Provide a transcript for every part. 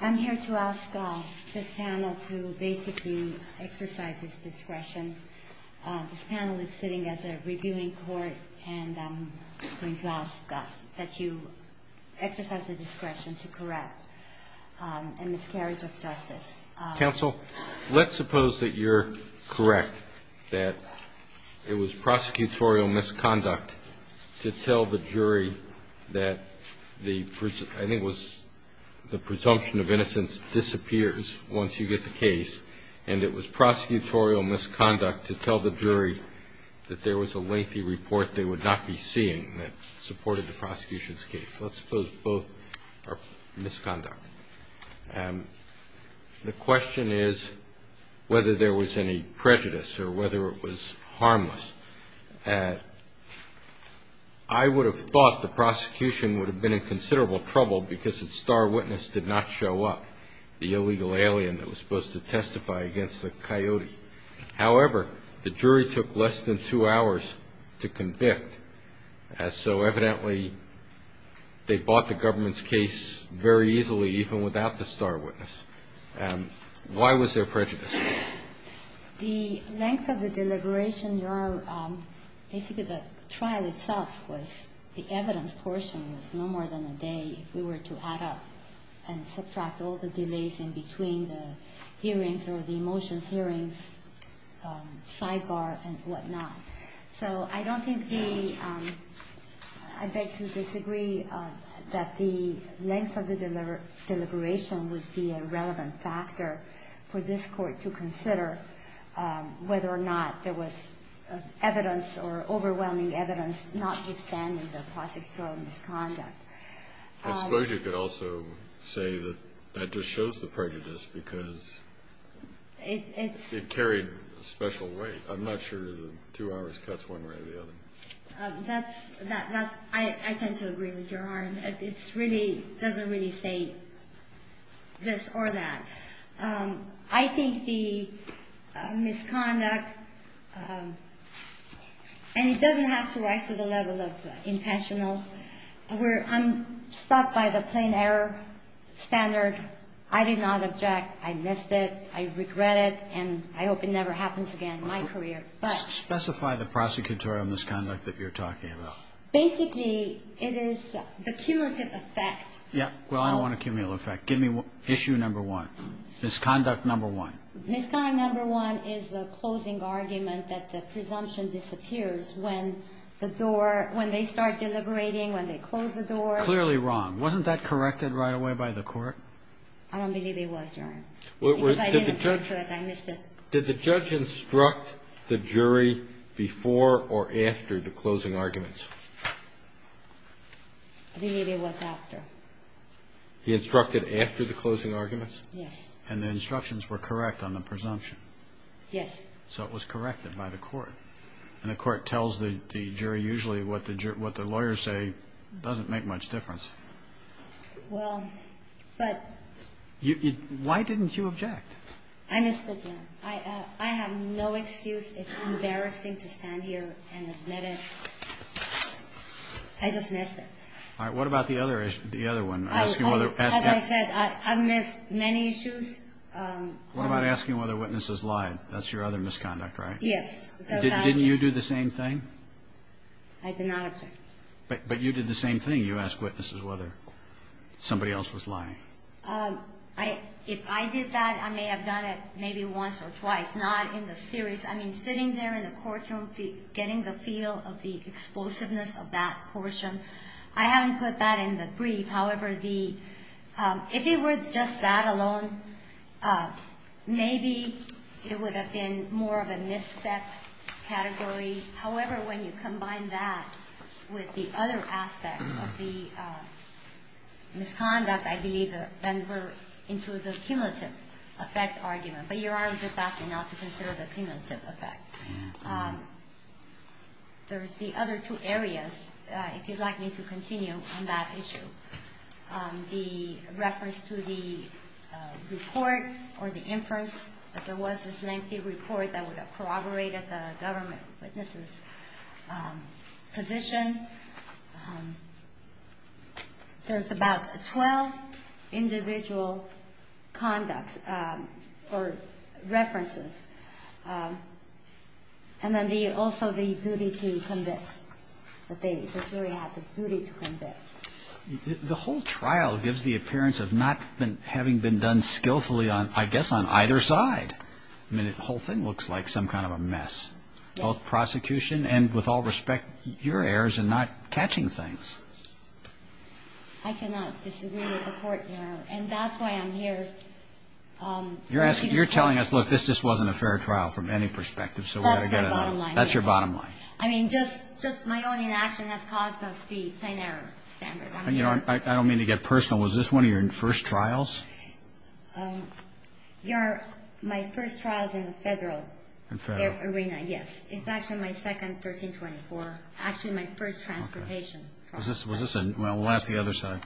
I'm here to ask this panel to basically exercise its discretion. This panel is sitting as a reviewing court and I'm going to ask that you exercise the discretion to correct a miscarriage of justice. Counsel, let's suppose that you're correct that it was prosecutorial misconduct to tell the jury that the presumption of innocence disappears once you get the case and it was prosecutorial misconduct to tell the jury that there was a lengthy report they would not be seeing that supported the prosecution's case. Let's suppose both are misconduct. The question is whether there was any prejudice or whether it was harmless. I would have thought the prosecution would have been in considerable trouble because its star witness did not show up, the illegal alien that was supposed to testify against the coyote. However, the jury took less than two hours to convict, so evidently they bought the government's case very easily even without the star witness. Why was there prejudice? The length of the deliberation, your – basically the trial itself was – the evidence portion was no more than a day if we were to add up and subtract all the delays in between the hearings or the motions hearings, sidebar and whatnot. So I don't think the – I beg to disagree that the length of the deliberation would be a relevant factor for this Court to consider whether or not there was evidence or overwhelming evidence notwithstanding the prosecutorial misconduct. I suppose you could also say that that just shows the prejudice because it carried a special weight. I'm not sure the two hours cuts one way or the other. That's – I tend to agree with your argument. It's really – doesn't really say this or that. I think the misconduct – and it doesn't have to rise to the level of intentional. I'm stuck by the plain error standard. I did not object. I missed it. I regret it, and I hope it never happens again in my career. Specify the prosecutorial misconduct that you're talking about. Basically, it is the cumulative effect. Yes. Well, I don't want a cumulative effect. Give me issue number one. Misconduct number one. Misconduct number one is the closing argument that the presumption disappears when the door – when they start deliberating, when they close the door. Clearly wrong. Wasn't that corrected right away by the Court? I don't believe it was, Your Honor, because I didn't judge it. I missed it. Did the judge instruct the jury before or after the closing arguments? I believe it was after. He instructed after the closing arguments? Yes. And the instructions were correct on the presumption? Yes. So it was corrected by the Court, and the Court tells the jury usually what the lawyers say doesn't make much difference. Well, but – Why didn't you object? I missed it, Your Honor. I have no excuse. It's embarrassing to stand here and admit it. I just missed it. All right. What about the other one? As I said, I've missed many issues. What about asking whether witnesses lied? That's your other misconduct, right? Yes. Didn't you do the same thing? I did not object. But you did the same thing. You asked witnesses whether somebody else was lying. If I did that, I may have done it maybe once or twice, not in the series. I mean, sitting there in the courtroom, getting the feel of the explosiveness of that portion, I haven't put that in the brief. However, if it were just that alone, maybe it would have been more of a misstep category. However, when you combine that with the other aspects of the misconduct, I believe then we're into the cumulative effect argument. But Your Honor just asked me not to consider the cumulative effect. There's the other two areas, if you'd like me to continue on that issue. The reference to the report or the inference that there was this lengthy report that would have corroborated the government witness's position. There's about 12 individual conducts or references. And then also the duty to convict, that the jury had the duty to convict. The whole trial gives the appearance of not having been done skillfully, I guess, on either side. I mean, the whole thing looks like some kind of a mess. Both prosecution and, with all respect, your errors in not catching things. I cannot disagree with the court, Your Honor. And that's why I'm here. You're telling us, look, this just wasn't a fair trial from any perspective. That's the bottom line. That's your bottom line. I mean, just my own inaction has caused us the plain error standard. I don't mean to get personal. Was this one of your first trials? My first trial is in the federal arena, yes. It's actually my second, 1324. Actually, my first transportation trial. Well, we'll ask the other side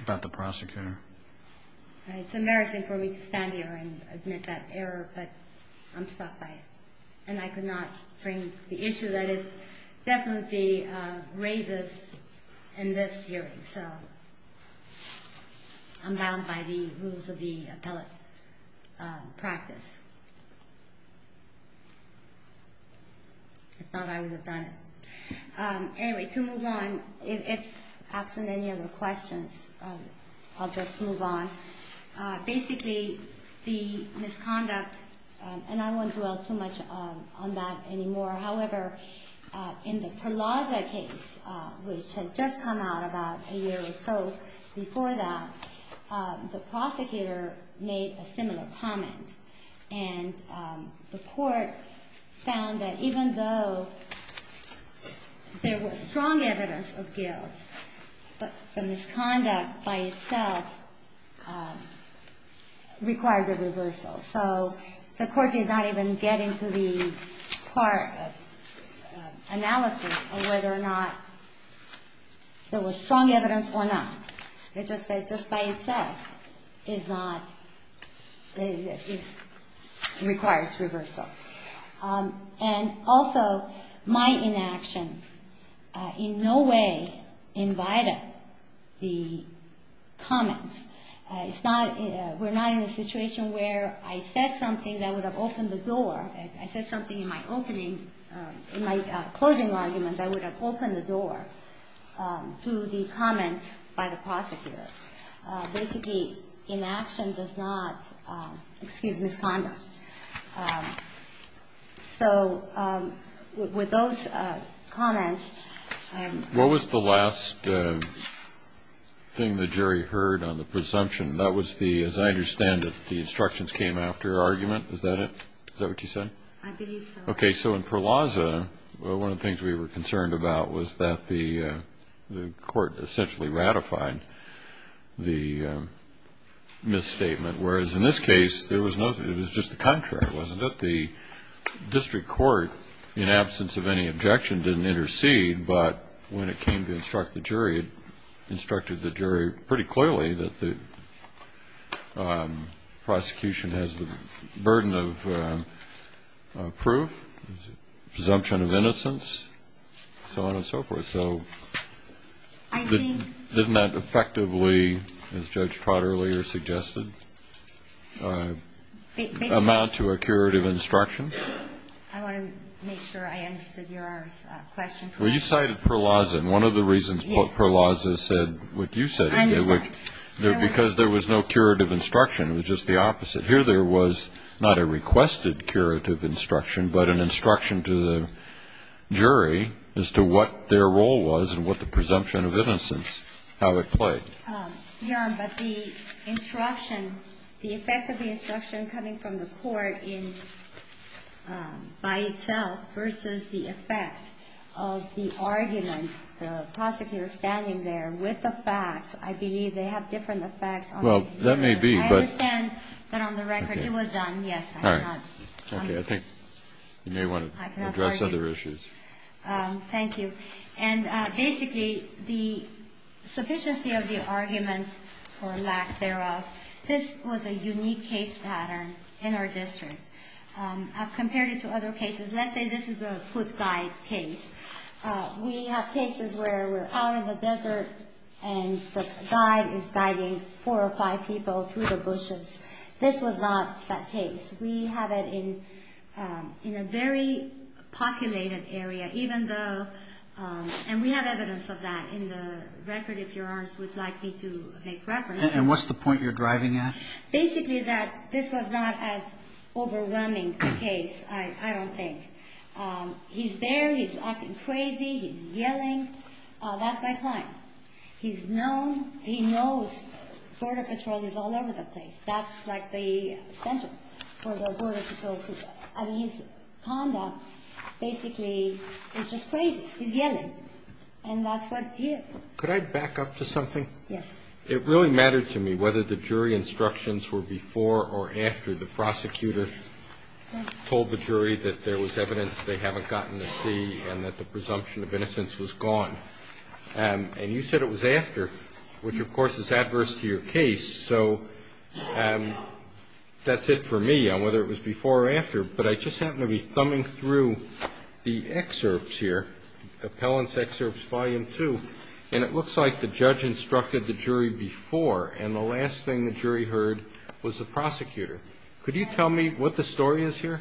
about the prosecutor. It's embarrassing for me to stand here and admit that error, but I'm stuck by it. And I could not frame the issue that it definitely raises in this hearing. So I'm bound by the rules of the appellate practice. If not, I would have done it. Anyway, to move on, if absent any other questions, I'll just move on. Basically, the misconduct, and I won't dwell too much on that anymore. However, in the Perlaza case, which had just come out about a year or so before that, the prosecutor made a similar comment. And the court found that even though there was strong evidence of guilt, the misconduct by itself required a reversal. So the court did not even get into the part of analysis of whether or not there was strong evidence or not. It just said just by itself requires reversal. And also, my inaction in no way invited the comments. We're not in a situation where I said something that would have opened the door. I said something in my closing argument that would have opened the door to the comments by the prosecutor. Basically, inaction does not excuse misconduct. So with those comments... What was the last thing that Jerry heard on the presumption? That was the, as I understand it, the instructions came after argument, is that it? Is that what you said? I believe so. Okay, so in Perlaza, one of the things we were concerned about was that the court essentially ratified the misstatement. Whereas in this case, it was just the contrary, wasn't it? The district court, in absence of any objection, didn't intercede. But when it came to instruct the jury, it instructed the jury pretty clearly that the prosecution has the burden of proof, presumption of innocence, so on and so forth. So didn't that effectively, as Judge Trotter earlier suggested, amount to a curative instruction? I want to make sure I understood your question. When you cited Perlaza, and one of the reasons Perlaza said what you said, because there was no curative instruction, it was just the opposite. Here there was not a requested curative instruction, but an instruction to the jury as to what their role was and what the presumption of innocence, how it played. Your Honor, but the instruction, the effect of the instruction coming from the court by itself versus the effect of the argument, the prosecutor standing there with the facts, I believe they have different effects on the jury. Well, that may be, but... I understand that on the record it was done, yes. All right. Okay, I think you may want to address other issues. Thank you. And basically, the sufficiency of the argument or lack thereof, this was a unique case pattern in our district. I've compared it to other cases. Let's say this is a foot guide case. We have cases where we're out in the desert and the guide is guiding four or five people through the bushes. This was not that case. We have it in a very populated area, and we have evidence of that in the record if Your Honor would like me to make reference. And what's the point you're driving at? Basically that this was not as overwhelming a case, I don't think. He's there, he's acting crazy, he's yelling. That's my client. He knows Border Patrol is all over the place. That's like the center for the Border Patrol. His conduct basically is just crazy. He's yelling. And that's what he is. Could I back up to something? Yes. It really mattered to me whether the jury instructions were before or after the prosecutor told the jury that there was evidence they haven't gotten to see and that the presumption of innocence was gone. And you said it was after, which of course is adverse to your case. So that's it for me on whether it was before or after. But I just happen to be thumbing through the excerpts here, the appellant's excerpts volume two. And it looks like the judge instructed the jury before and the last thing the jury heard was the prosecutor. Could you tell me what the story is here?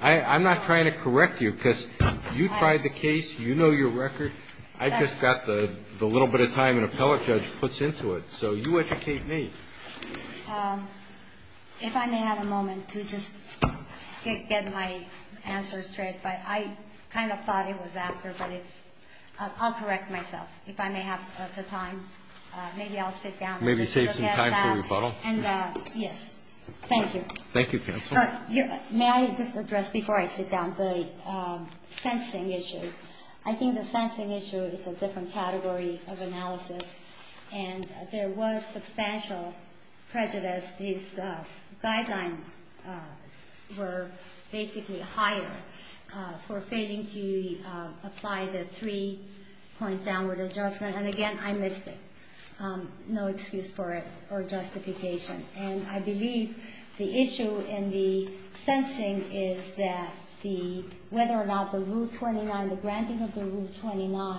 I'm not trying to correct you because you tried the case, you know your record. I just got the little bit of time an appellate judge puts into it. So you educate me. If I may have a moment to just get my answer straight. I kind of thought it was after. I'll correct myself if I may have the time. Maybe I'll sit down. Maybe save some time for rebuttal. Yes. Thank you. Thank you, counsel. May I just address before I sit down the sensing issue. I think the sensing issue is a different category of analysis. And there was substantial prejudice. These guidelines were basically higher for failing to apply the three-point downward adjustment. And again, I missed it. No excuse for it or justification. And I believe the issue in the sensing is that the, whether or not the rule 29, the granting of the rule 29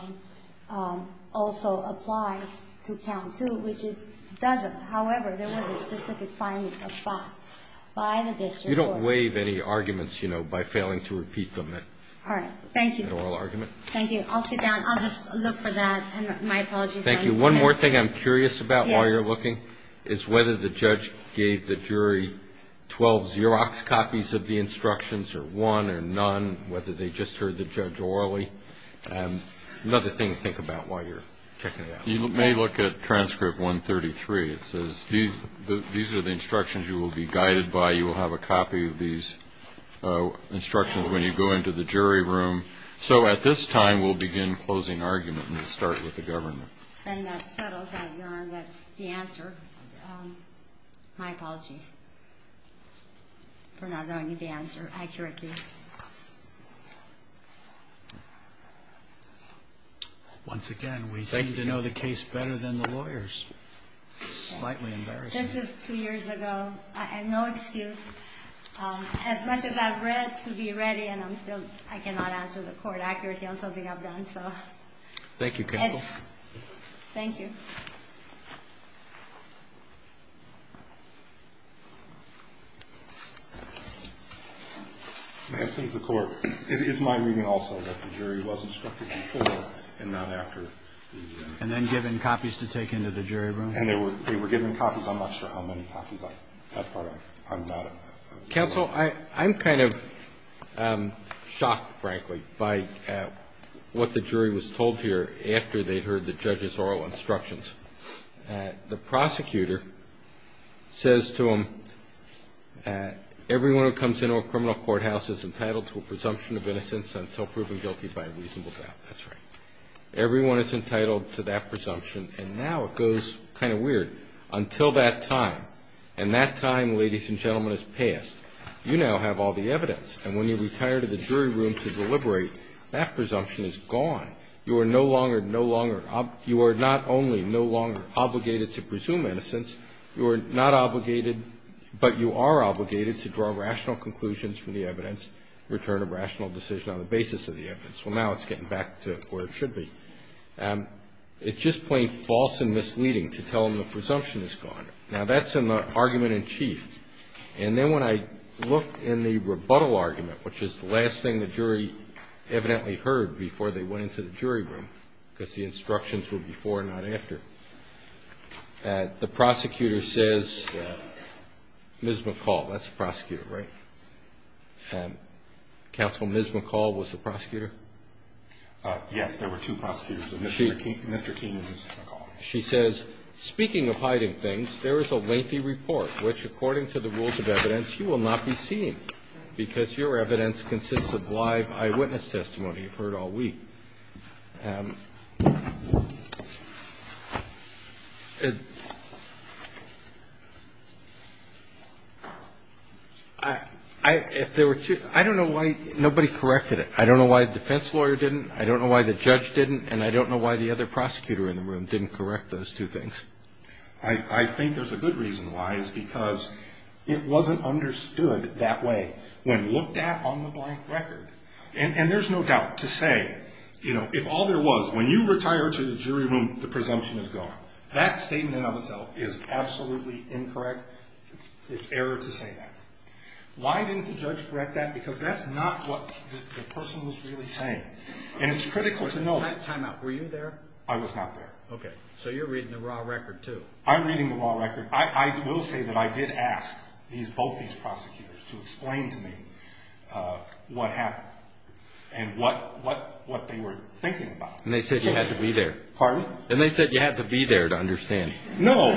also applies to count two, which it doesn't. However, there was a specific finding of five by the district court. You don't waive any arguments, you know, by failing to repeat them. All right. Thank you. Thank you. I'll sit down. I'll just look for that. My apologies. Thank you. One more thing I'm curious about while you're looking is whether the judge gave the jury 12 Xerox copies of the instructions or one or none, whether they just heard the judge orally. Another thing to think about while you're checking it out. You may look at transcript 133. It says these are the instructions you will be guided by. You will have a copy of these instructions when you go into the jury room. So at this time, we'll begin closing argument and start with the government. And that settles that, Your Honor. That's the answer. My apologies for not allowing you the answer. Once again, we seem to know the case better than the lawyers. Slightly embarrassing. This is two years ago. And no excuse. As much as I've read, to be ready, and I'm still, I cannot answer the court accurately on something I've done. So. Thank you, counsel. Thank you. May I say to the court, it is my reading also that the jury was instructed before and not after. And then given copies to take into the jury room? And they were given copies. I'm not sure how many copies. I'm not. Counsel, I'm kind of shocked, frankly, by what the jury was told here after they heard the judge's oral instruction. The prosecutor says to him, everyone who comes into a criminal courthouse is entitled to a presumption of innocence on self-proven guilty by a reasonable doubt. That's right. Everyone is entitled to that presumption. And now it goes kind of weird. Until that time, and that time, ladies and gentlemen, has passed. You now have all the evidence. And when you retire to the jury room to deliberate, that presumption is gone. You are no longer, no longer, you are not only no longer obligated to presume innocence. You are not obligated, but you are obligated to draw rational conclusions from the evidence, return a rational decision on the basis of the evidence. Well, now it's getting back to where it should be. It's just plain false and misleading to tell them the presumption is gone. And then when I look in the rebuttal argument, which is the last thing the jury evidently heard before they went into the jury room, because the instructions were before and not after, the prosecutor says, Ms. McCall, that's the prosecutor, right? Counsel, Ms. McCall was the prosecutor? Yes, there were two prosecutors, Mr. Keene and Ms. McCall. She says, speaking of hiding things, there is a lengthy report which, according to the rules of evidence, you will not be seeing because your evidence consists of live eyewitness testimony you've heard all week. I don't know why nobody corrected it. I don't know why the defense lawyer didn't. I don't know why the judge didn't. And I don't know why the other prosecutor in the room didn't correct those two things. I think there's a good reason why. It's because it wasn't understood that way when looked at on the blank record. And there's no doubt to say, you know, if all there was, when you retire to the jury room, the presumption is gone. That statement of itself is absolutely incorrect. It's error to say that. Why didn't the judge correct that? Because that's not what the person was really saying. And it's critical to know. Time out. Were you there? I was not there. Okay. So you're reading the raw record, too. I'm reading the raw record. I will say that I did ask both these prosecutors to explain to me what happened and what they were thinking about. And they said you had to be there. Pardon? And they said you had to be there to understand. No.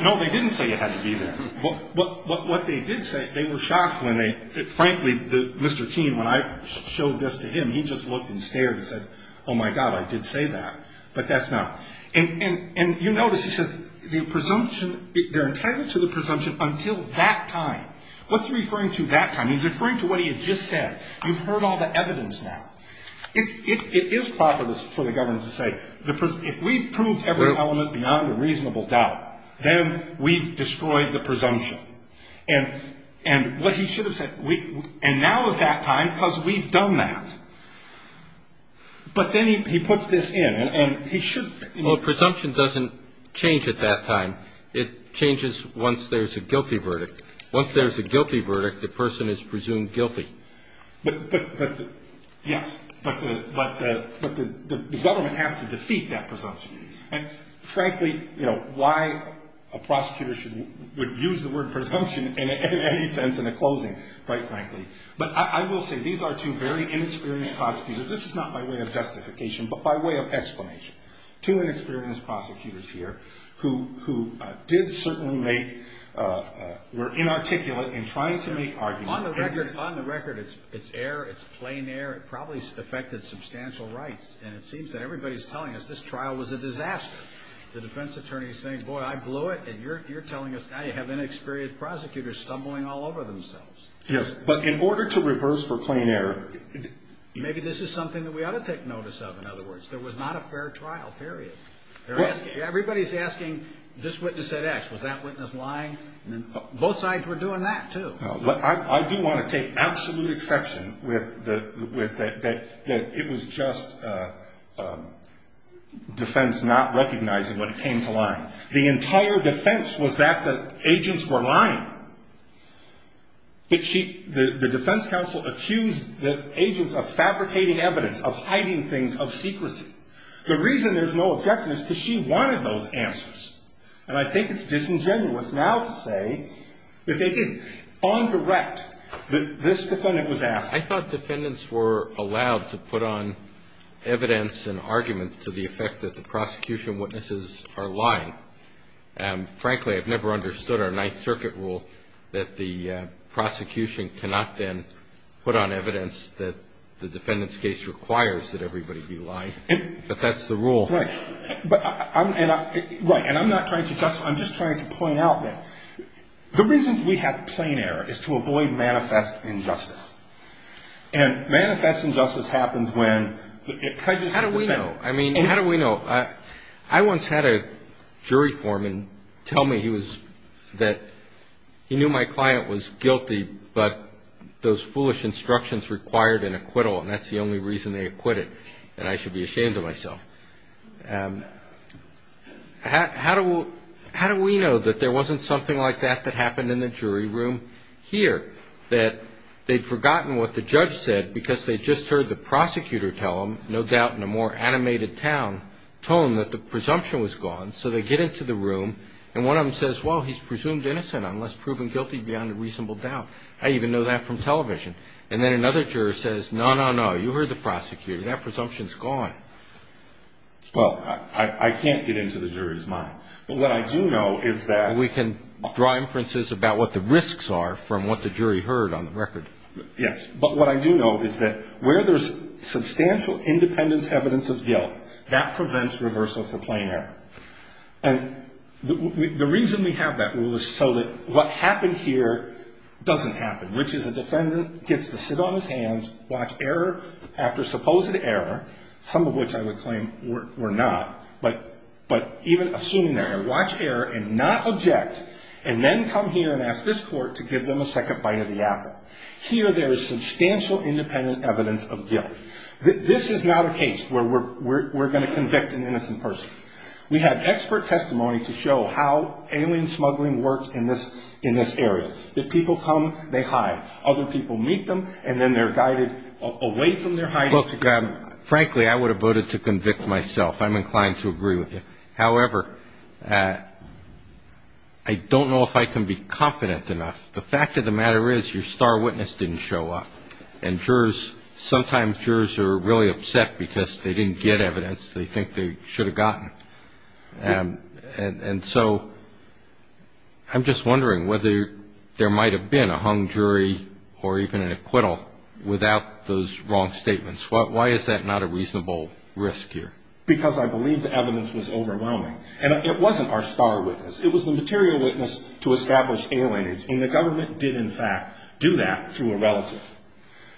No, they didn't say you had to be there. But what they did say, they were shocked when they, frankly, Mr. Keene, when I showed this to him, he just looked and stared and said, oh, my God, I did say that. But that's not. And you notice he says the presumption, they're entitled to the presumption until that time. What's he referring to that time? He's referring to what he had just said. You've heard all the evidence now. It is proper for the governor to say if we've proved every element beyond a reasonable doubt, then we've destroyed the presumption. And what he should have said, and now is that time because we've done that. But then he puts this in. And he should. Well, presumption doesn't change at that time. It changes once there's a guilty verdict. Once there's a guilty verdict, the person is presumed guilty. But, yes, but the government has to defeat that presumption. And, frankly, you know, why a prosecutor would use the word presumption in any sense in a closing, quite frankly. But I will say these are two very inexperienced prosecutors. This is not by way of justification, but by way of explanation. Two inexperienced prosecutors here who did certainly make, were inarticulate in trying to make arguments. On the record, it's error. It's plain error. It probably affected substantial rights. And it seems that everybody's telling us this trial was a disaster. The defense attorney is saying, boy, I blew it. And you're telling us now you have inexperienced prosecutors stumbling all over themselves. Yes, but in order to reverse for plain error. Maybe this is something that we ought to take notice of, in other words. There was not a fair trial, period. Everybody's asking, this witness said X. Was that witness lying? Both sides were doing that, too. I do want to take absolute exception with that it was just defense not recognizing when it came to lying. The entire defense was that the agents were lying. But the defense counsel accused the agents of fabricating evidence, of hiding things, of secrecy. The reason there's no objection is because she wanted those answers. And I think it's disingenuous now to say that they didn't. On direct, this defendant was asked. I thought defendants were allowed to put on evidence and arguments to the effect that the prosecution witnesses are lying. Frankly, I've never understood our Ninth Circuit rule that the prosecution cannot then put on evidence that the defendant's case requires that everybody be lying. But that's the rule. Right. And I'm not trying to justify. I'm just trying to point out that. The reasons we have plain error is to avoid manifest injustice. And manifest injustice happens when it prejudices the defendant. How do we know? I mean, how do we know? I once had a jury foreman tell me that he knew my client was guilty, but those foolish instructions required an acquittal. And that's the only reason they acquitted. And I should be ashamed of myself. How do we know that there wasn't something like that that happened in the jury room here? That they'd forgotten what the judge said because they'd just heard the prosecutor tell them, no doubt in a more animated tone, that the presumption was gone. So they get into the room and one of them says, well, he's presumed innocent unless proven guilty beyond a reasonable doubt. I even know that from television. And then another juror says, no, no, no. You heard the prosecutor. That presumption's gone. Well, I can't get into the jury's mind. But what I do know is that. We can draw inferences about what the risks are from what the jury heard on the record. Yes. But what I do know is that where there's substantial independence evidence of guilt, that prevents reversal for plain error. And the reason we have that rule is so that what happened here doesn't happen. Rich is a defendant, gets to sit on his hands, watch error after supposed error, some of which I would claim were not. But even assuming that error, watch error and not object. And then come here and ask this court to give them a second bite of the apple. Here there is substantial independent evidence of guilt. This is not a case where we're going to convict an innocent person. We have expert testimony to show how alien smuggling works in this area. The people come. They hide. Other people meet them. And then they're guided away from their hiding. Frankly, I would have voted to convict myself. I'm inclined to agree with you. However, I don't know if I can be confident enough. The fact of the matter is your star witness didn't show up. And jurors, sometimes jurors are really upset because they didn't get evidence they think they should have gotten. And so I'm just wondering whether there might have been a hung jury or even an acquittal without those wrong statements. Why is that not a reasonable risk here? Because I believe the evidence was overwhelming. And it wasn't our star witness. It was the material witness to establish alienage. And the government did, in fact, do that through a relative.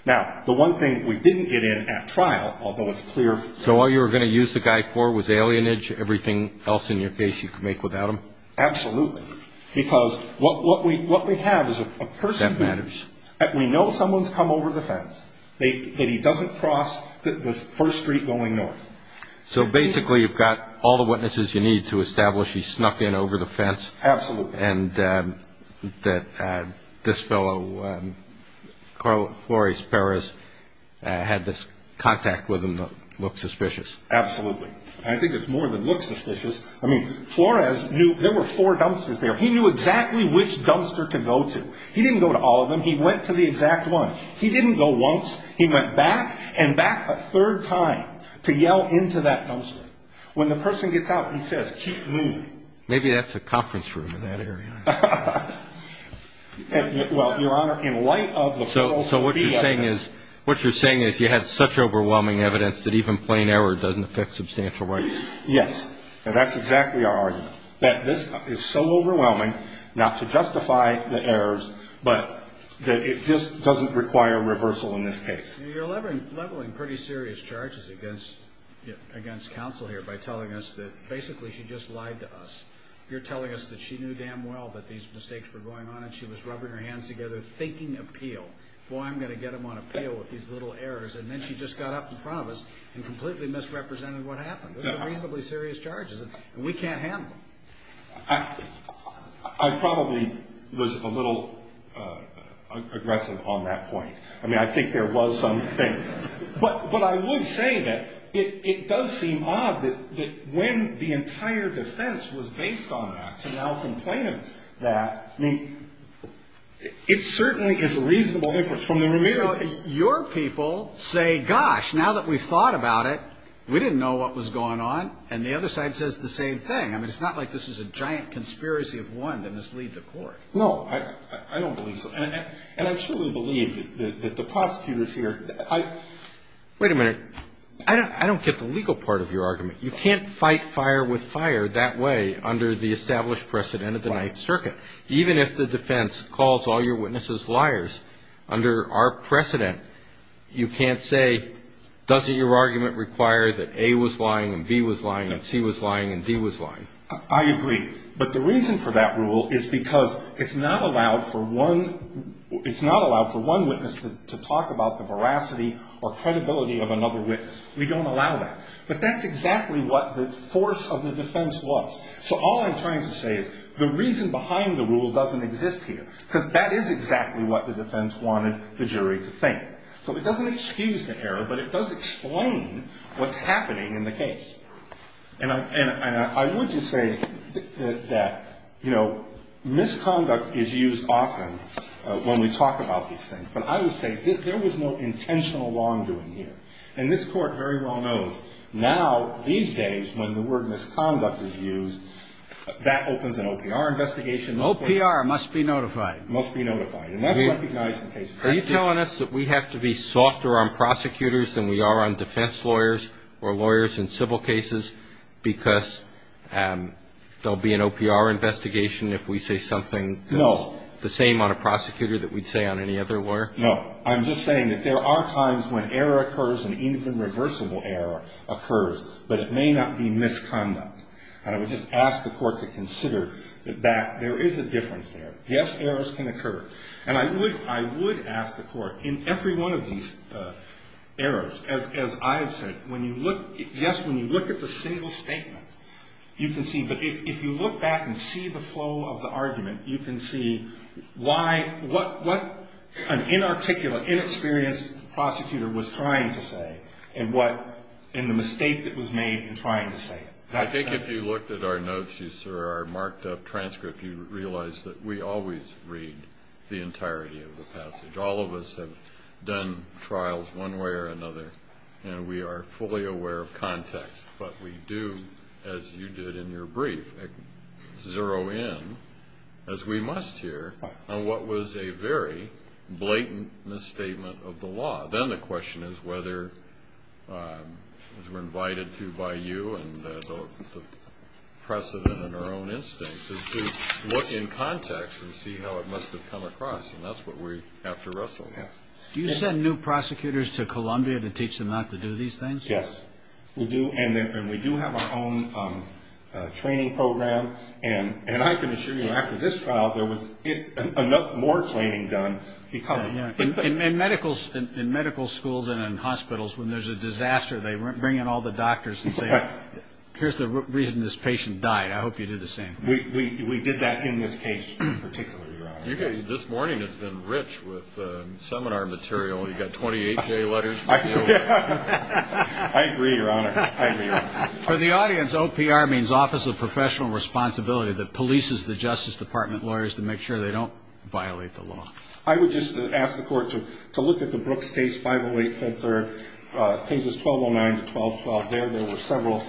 Now, the one thing we didn't get in at trial, although it's clear. So all you were going to use the guy for was alienage, everything else in your case you could make without him? Absolutely. Because what we have is a person. That matters. We know someone's come over the fence. That he doesn't cross the first street going north. So basically, you've got all the witnesses you need to establish he snuck in over the fence. Absolutely. And that this fellow, Flores Perez, had this contact with him that looked suspicious. Absolutely. I think it's more than looked suspicious. I mean, Flores knew there were four dumpsters there. He knew exactly which dumpster to go to. He didn't go to all of them. He went to the exact one. He didn't go once. He went back and back a third time to yell into that dumpster. When the person gets out, he says, keep moving. Maybe that's a conference room in that area. Well, Your Honor, in light of the... So what you're saying is you had such overwhelming evidence that even plain error doesn't affect substantial rights? Yes. And that's exactly our argument. That this is so overwhelming, not to justify the errors, but that it just doesn't require reversal in this case. You're leveling pretty serious charges against counsel here by telling us that basically she just lied to us. You're telling us that she knew damn well that these mistakes were going on and she was rubbing her hands together thinking appeal. Boy, I'm going to get them on appeal with these little errors. And then she just got up in front of us and completely misrepresented what happened. These are reasonably serious charges and we can't handle them. I probably was a little aggressive on that point. I mean, I think there was some thing. But I would say that it does seem odd that when the entire defense was based on that to now complain of that. I mean, it certainly is a reasonable difference from the remittance. Your people say, gosh, now that we've thought about it, we didn't know what was going on. And the other side says the same thing. I mean, it's not like this is a giant conspiracy of one to mislead the court. No, I don't believe so. And I truly believe that the prosecutor is here. Wait a minute. I don't get the legal part of your argument. You can't fight fire with fire that way under the established precedent of the Ninth Circuit. Even if the defense calls all your witnesses liars, under our precedent, you can't say, doesn't your argument require that A was lying and B was lying and C was lying and D was lying? I agree. But the reason for that rule is because it's not allowed for one witness to talk about the veracity or credibility of another witness. We don't allow that. But that's exactly what the force of the defense was. So all I'm trying to say is the reason behind the rule doesn't exist here. Because that is exactly what the defense wanted the jury to think. So it doesn't excuse the error, but it does explain what's happening in the case. And I would just say that, you know, misconduct is used often when we talk about these things. But I would say there was no intentional wrongdoing here. And this Court very well knows now, these days, when the word misconduct is used, that opens an OPR investigation. OPR must be notified. Must be notified. And that's recognized in cases like this. Are you telling us that we have to be softer on prosecutors than we are on defense lawyers or lawyers in civil cases? Because there'll be an OPR investigation if we say something that's the same on a prosecutor that we'd say on any other lawyer? No. I'm just saying that there are times when error occurs and even reversible error occurs. But it may not be misconduct. And I would just ask the Court to consider that there is a difference there. Yes, errors can occur. And I would ask the Court, in every one of these errors, as I've said, when you look, yes, when you look at the single statement, you can see, but if you look back and see the flow of the argument, you can see why, what an inarticulate, inexperienced prosecutor was trying to say and what, and the mistake that was made in trying to say it. I think if you looked at our notes, sir, our marked-up transcript, you'd realize that we always read the entirety of the passage. All of us have done trials one way or another, and we are fully aware of context. But we do, as you did in your brief, zero in, as we must here, on what was a very blatant misstatement of the law. Then the question is whether, as we're invited to by you and the precedent in our own instincts, is to look in context and see how it must have come across. And that's what we have to wrestle with. Do you send new prosecutors to Columbia to teach them not to do these things? Yes, we do. And we do have our own training program. And I can assure you, after this trial, there was enough more training done. In medical schools and in hospitals, when there's a disaster, they bring in all the doctors and say, here's the reason this patient died. I hope you do the same. We did that in this case in particular, Your Honor. This morning has been rich with seminar material. You've got 28-day letters. I agree, Your Honor. For the audience, OPR means Office of Professional Responsibility that polices the Justice Department lawyers to make sure they don't violate the law. I would just ask the Court to look at the Brooks case, 508-5-3, cases 1209 to 1212. There, there were several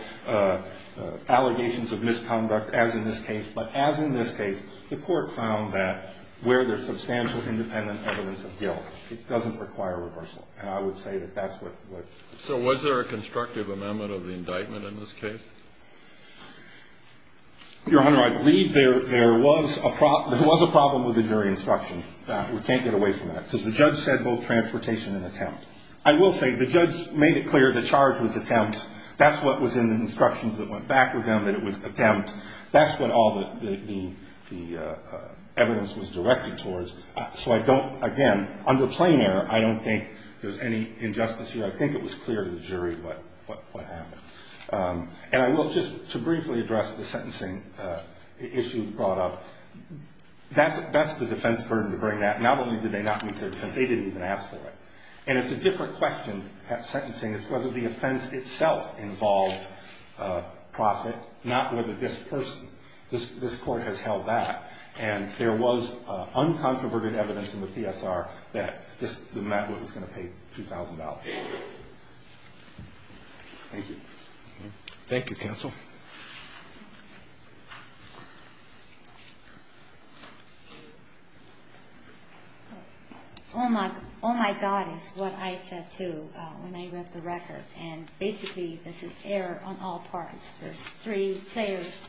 allegations of misconduct, as in this case. But as in this case, the Court found that, where there's substantial independent evidence of guilt, it doesn't require reversal. And I would say that that's what... So was there a constructive amendment of the indictment in this case? Your Honor, I believe there was a problem with the jury instruction. We can't get away from that, because the judge said both transportation and attempt. I will say, the judge made it clear the charge was attempt. That's what was in the instructions that went back with him, that it was attempt. That's what all the evidence was directed towards. So I don't, again, under plain error, I don't think there's any injustice here. I think it was clear to the jury what happened. And I will, just to briefly address the sentencing issue brought up. That's the defense burden to bring that. Not only did they not meet their defense, they didn't even ask for it. And it's a different question at sentencing. It's whether the offense itself involved profit, not whether this person, this Court has held that. And there was uncontroverted evidence in the PSR that this man was going to pay $2,000. Thank you. Thank you, counsel. Oh, my God is what I said, too, when I read the record. And basically, this is error on all parts. There's three layers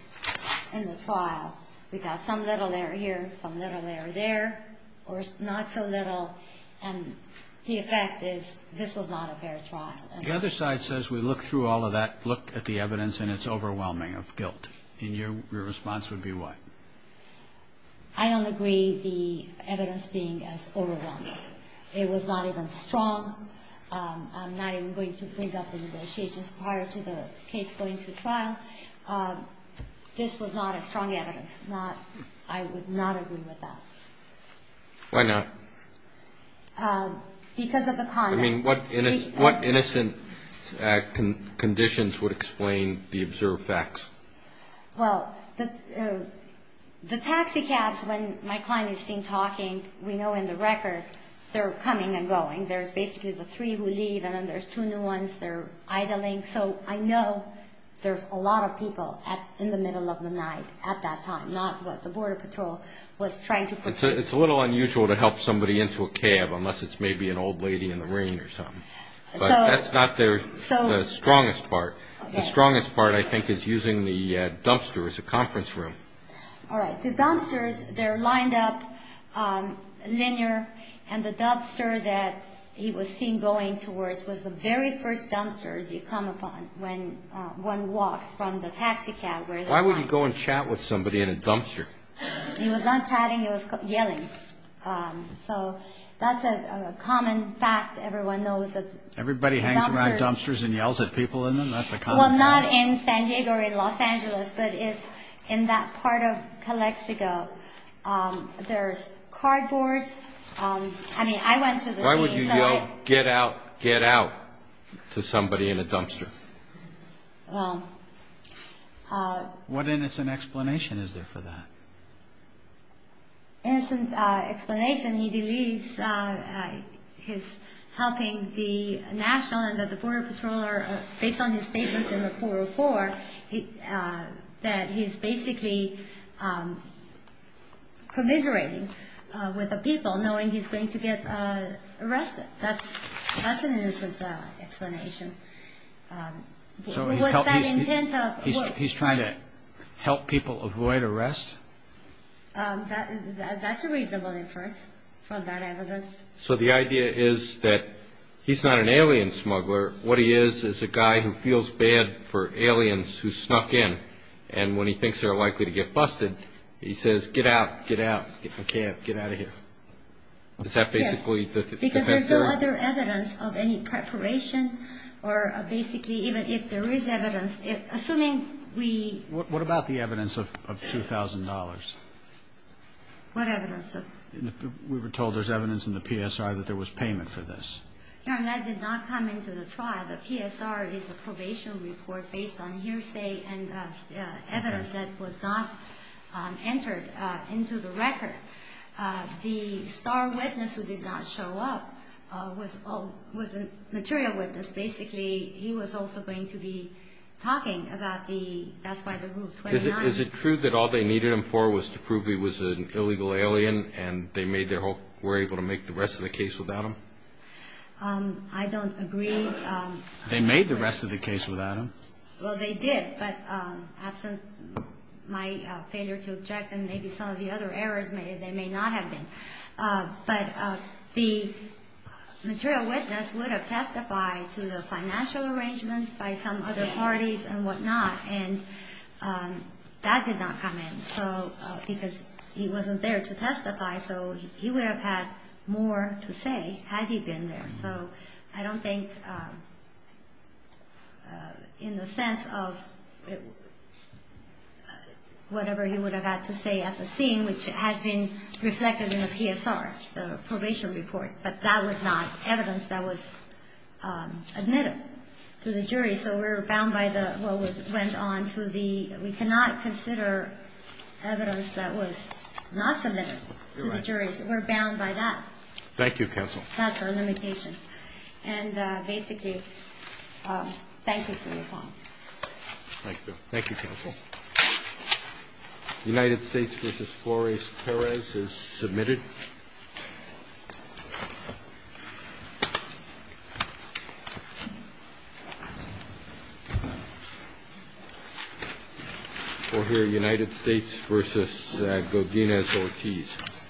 in the file. We've got some little error here, some little error there, or not so little. And the effect is this was not a fair trial. The other side says we look through all of that, look at the evidence, and it's overwhelming of guilt. And your response would be what? I don't agree, the evidence being as overwhelming. It was not even strong. I'm not even going to bring up the negotiations prior to the case going to trial. This was not a strong evidence. I would not agree with that. Why not? Because of the conduct. I mean, what innocent conditions would explain the observed facts? Well, the taxi cabs, when my client is seen talking, we know in the record, they're coming and going. There's basically the three who leave, and then there's two new ones. They're idling. So I know there's a lot of people in the middle of the night at that time, not what the Border Patrol was trying to pursue. It's a little unusual to help somebody into a cab, unless it's maybe an old lady in the rain or something. But that's not the strongest part. The strongest part, I think, is using the dumpster as a conference room. All right. The dumpsters, they're lined up linear, and the dumpster that he was seen going towards was the very first dumpster you come upon when one walks from the taxi cab. Why would he go and chat with somebody in a dumpster? He was not chatting. He was yelling. So that's a common fact. Everyone knows that dumpsters. Everybody hangs around dumpsters and yells at people in them. That's a common fact. Well, not in San Diego or in Los Angeles, but in that part of Calexico. There's cardboard. I mean, I went to the scene. Why would you yell, get out, get out, to somebody in a dumpster? Well... What innocent explanation is there for that? Innocent explanation, he believes he's helping the national, and that the border patroller, based on his statements in the 404, that he's basically commiserating with the people, knowing he's going to get arrested. That's an innocent explanation. What's that intent of... He's trying to help people avoid arrest? That's a reasonable inference from that evidence. So the idea is that he's not an alien smuggler. What he is is a guy who feels bad for aliens who snuck in, and when he thinks they're likely to get busted, he says, get out, get out, I can't, get out of here. Because there's no other evidence of any preparation, or basically even if there is evidence, assuming we... What about the evidence of $2,000? What evidence? We were told there's evidence in the PSR that there was payment for this. That did not come into the trial. The PSR is a probation report based on hearsay and evidence that was not entered into the record. The star witness who did not show up was a material witness. Basically, he was also going to be talking about the... That's why the Rule 29... Is it true that all they needed him for was to prove he was an illegal alien, and they were able to make the rest of the case without him? I don't agree. They made the rest of the case without him. Well, they did, but absent my failure to object, and maybe some of the other errors, they may not have been. But the material witness would have testified to the financial arrangements by some other parties and whatnot, and that did not come in. So, because he wasn't there to testify, so he would have had more to say had he been there. So, I don't think in the sense of whatever he would have had to say at the scene, which has been reflected in the PSR, the probation report, but that was not evidence that was admitted to the jury. So, we're bound by what went on through the... We cannot consider evidence that was not submitted to the jury. We're bound by that. Thank you, counsel. That's our limitations. And basically, thank you for your time. Thank you. Thank you, counsel. United States v. Flores-Perez is submitted. We'll hear United States v. Godinez-Ortiz.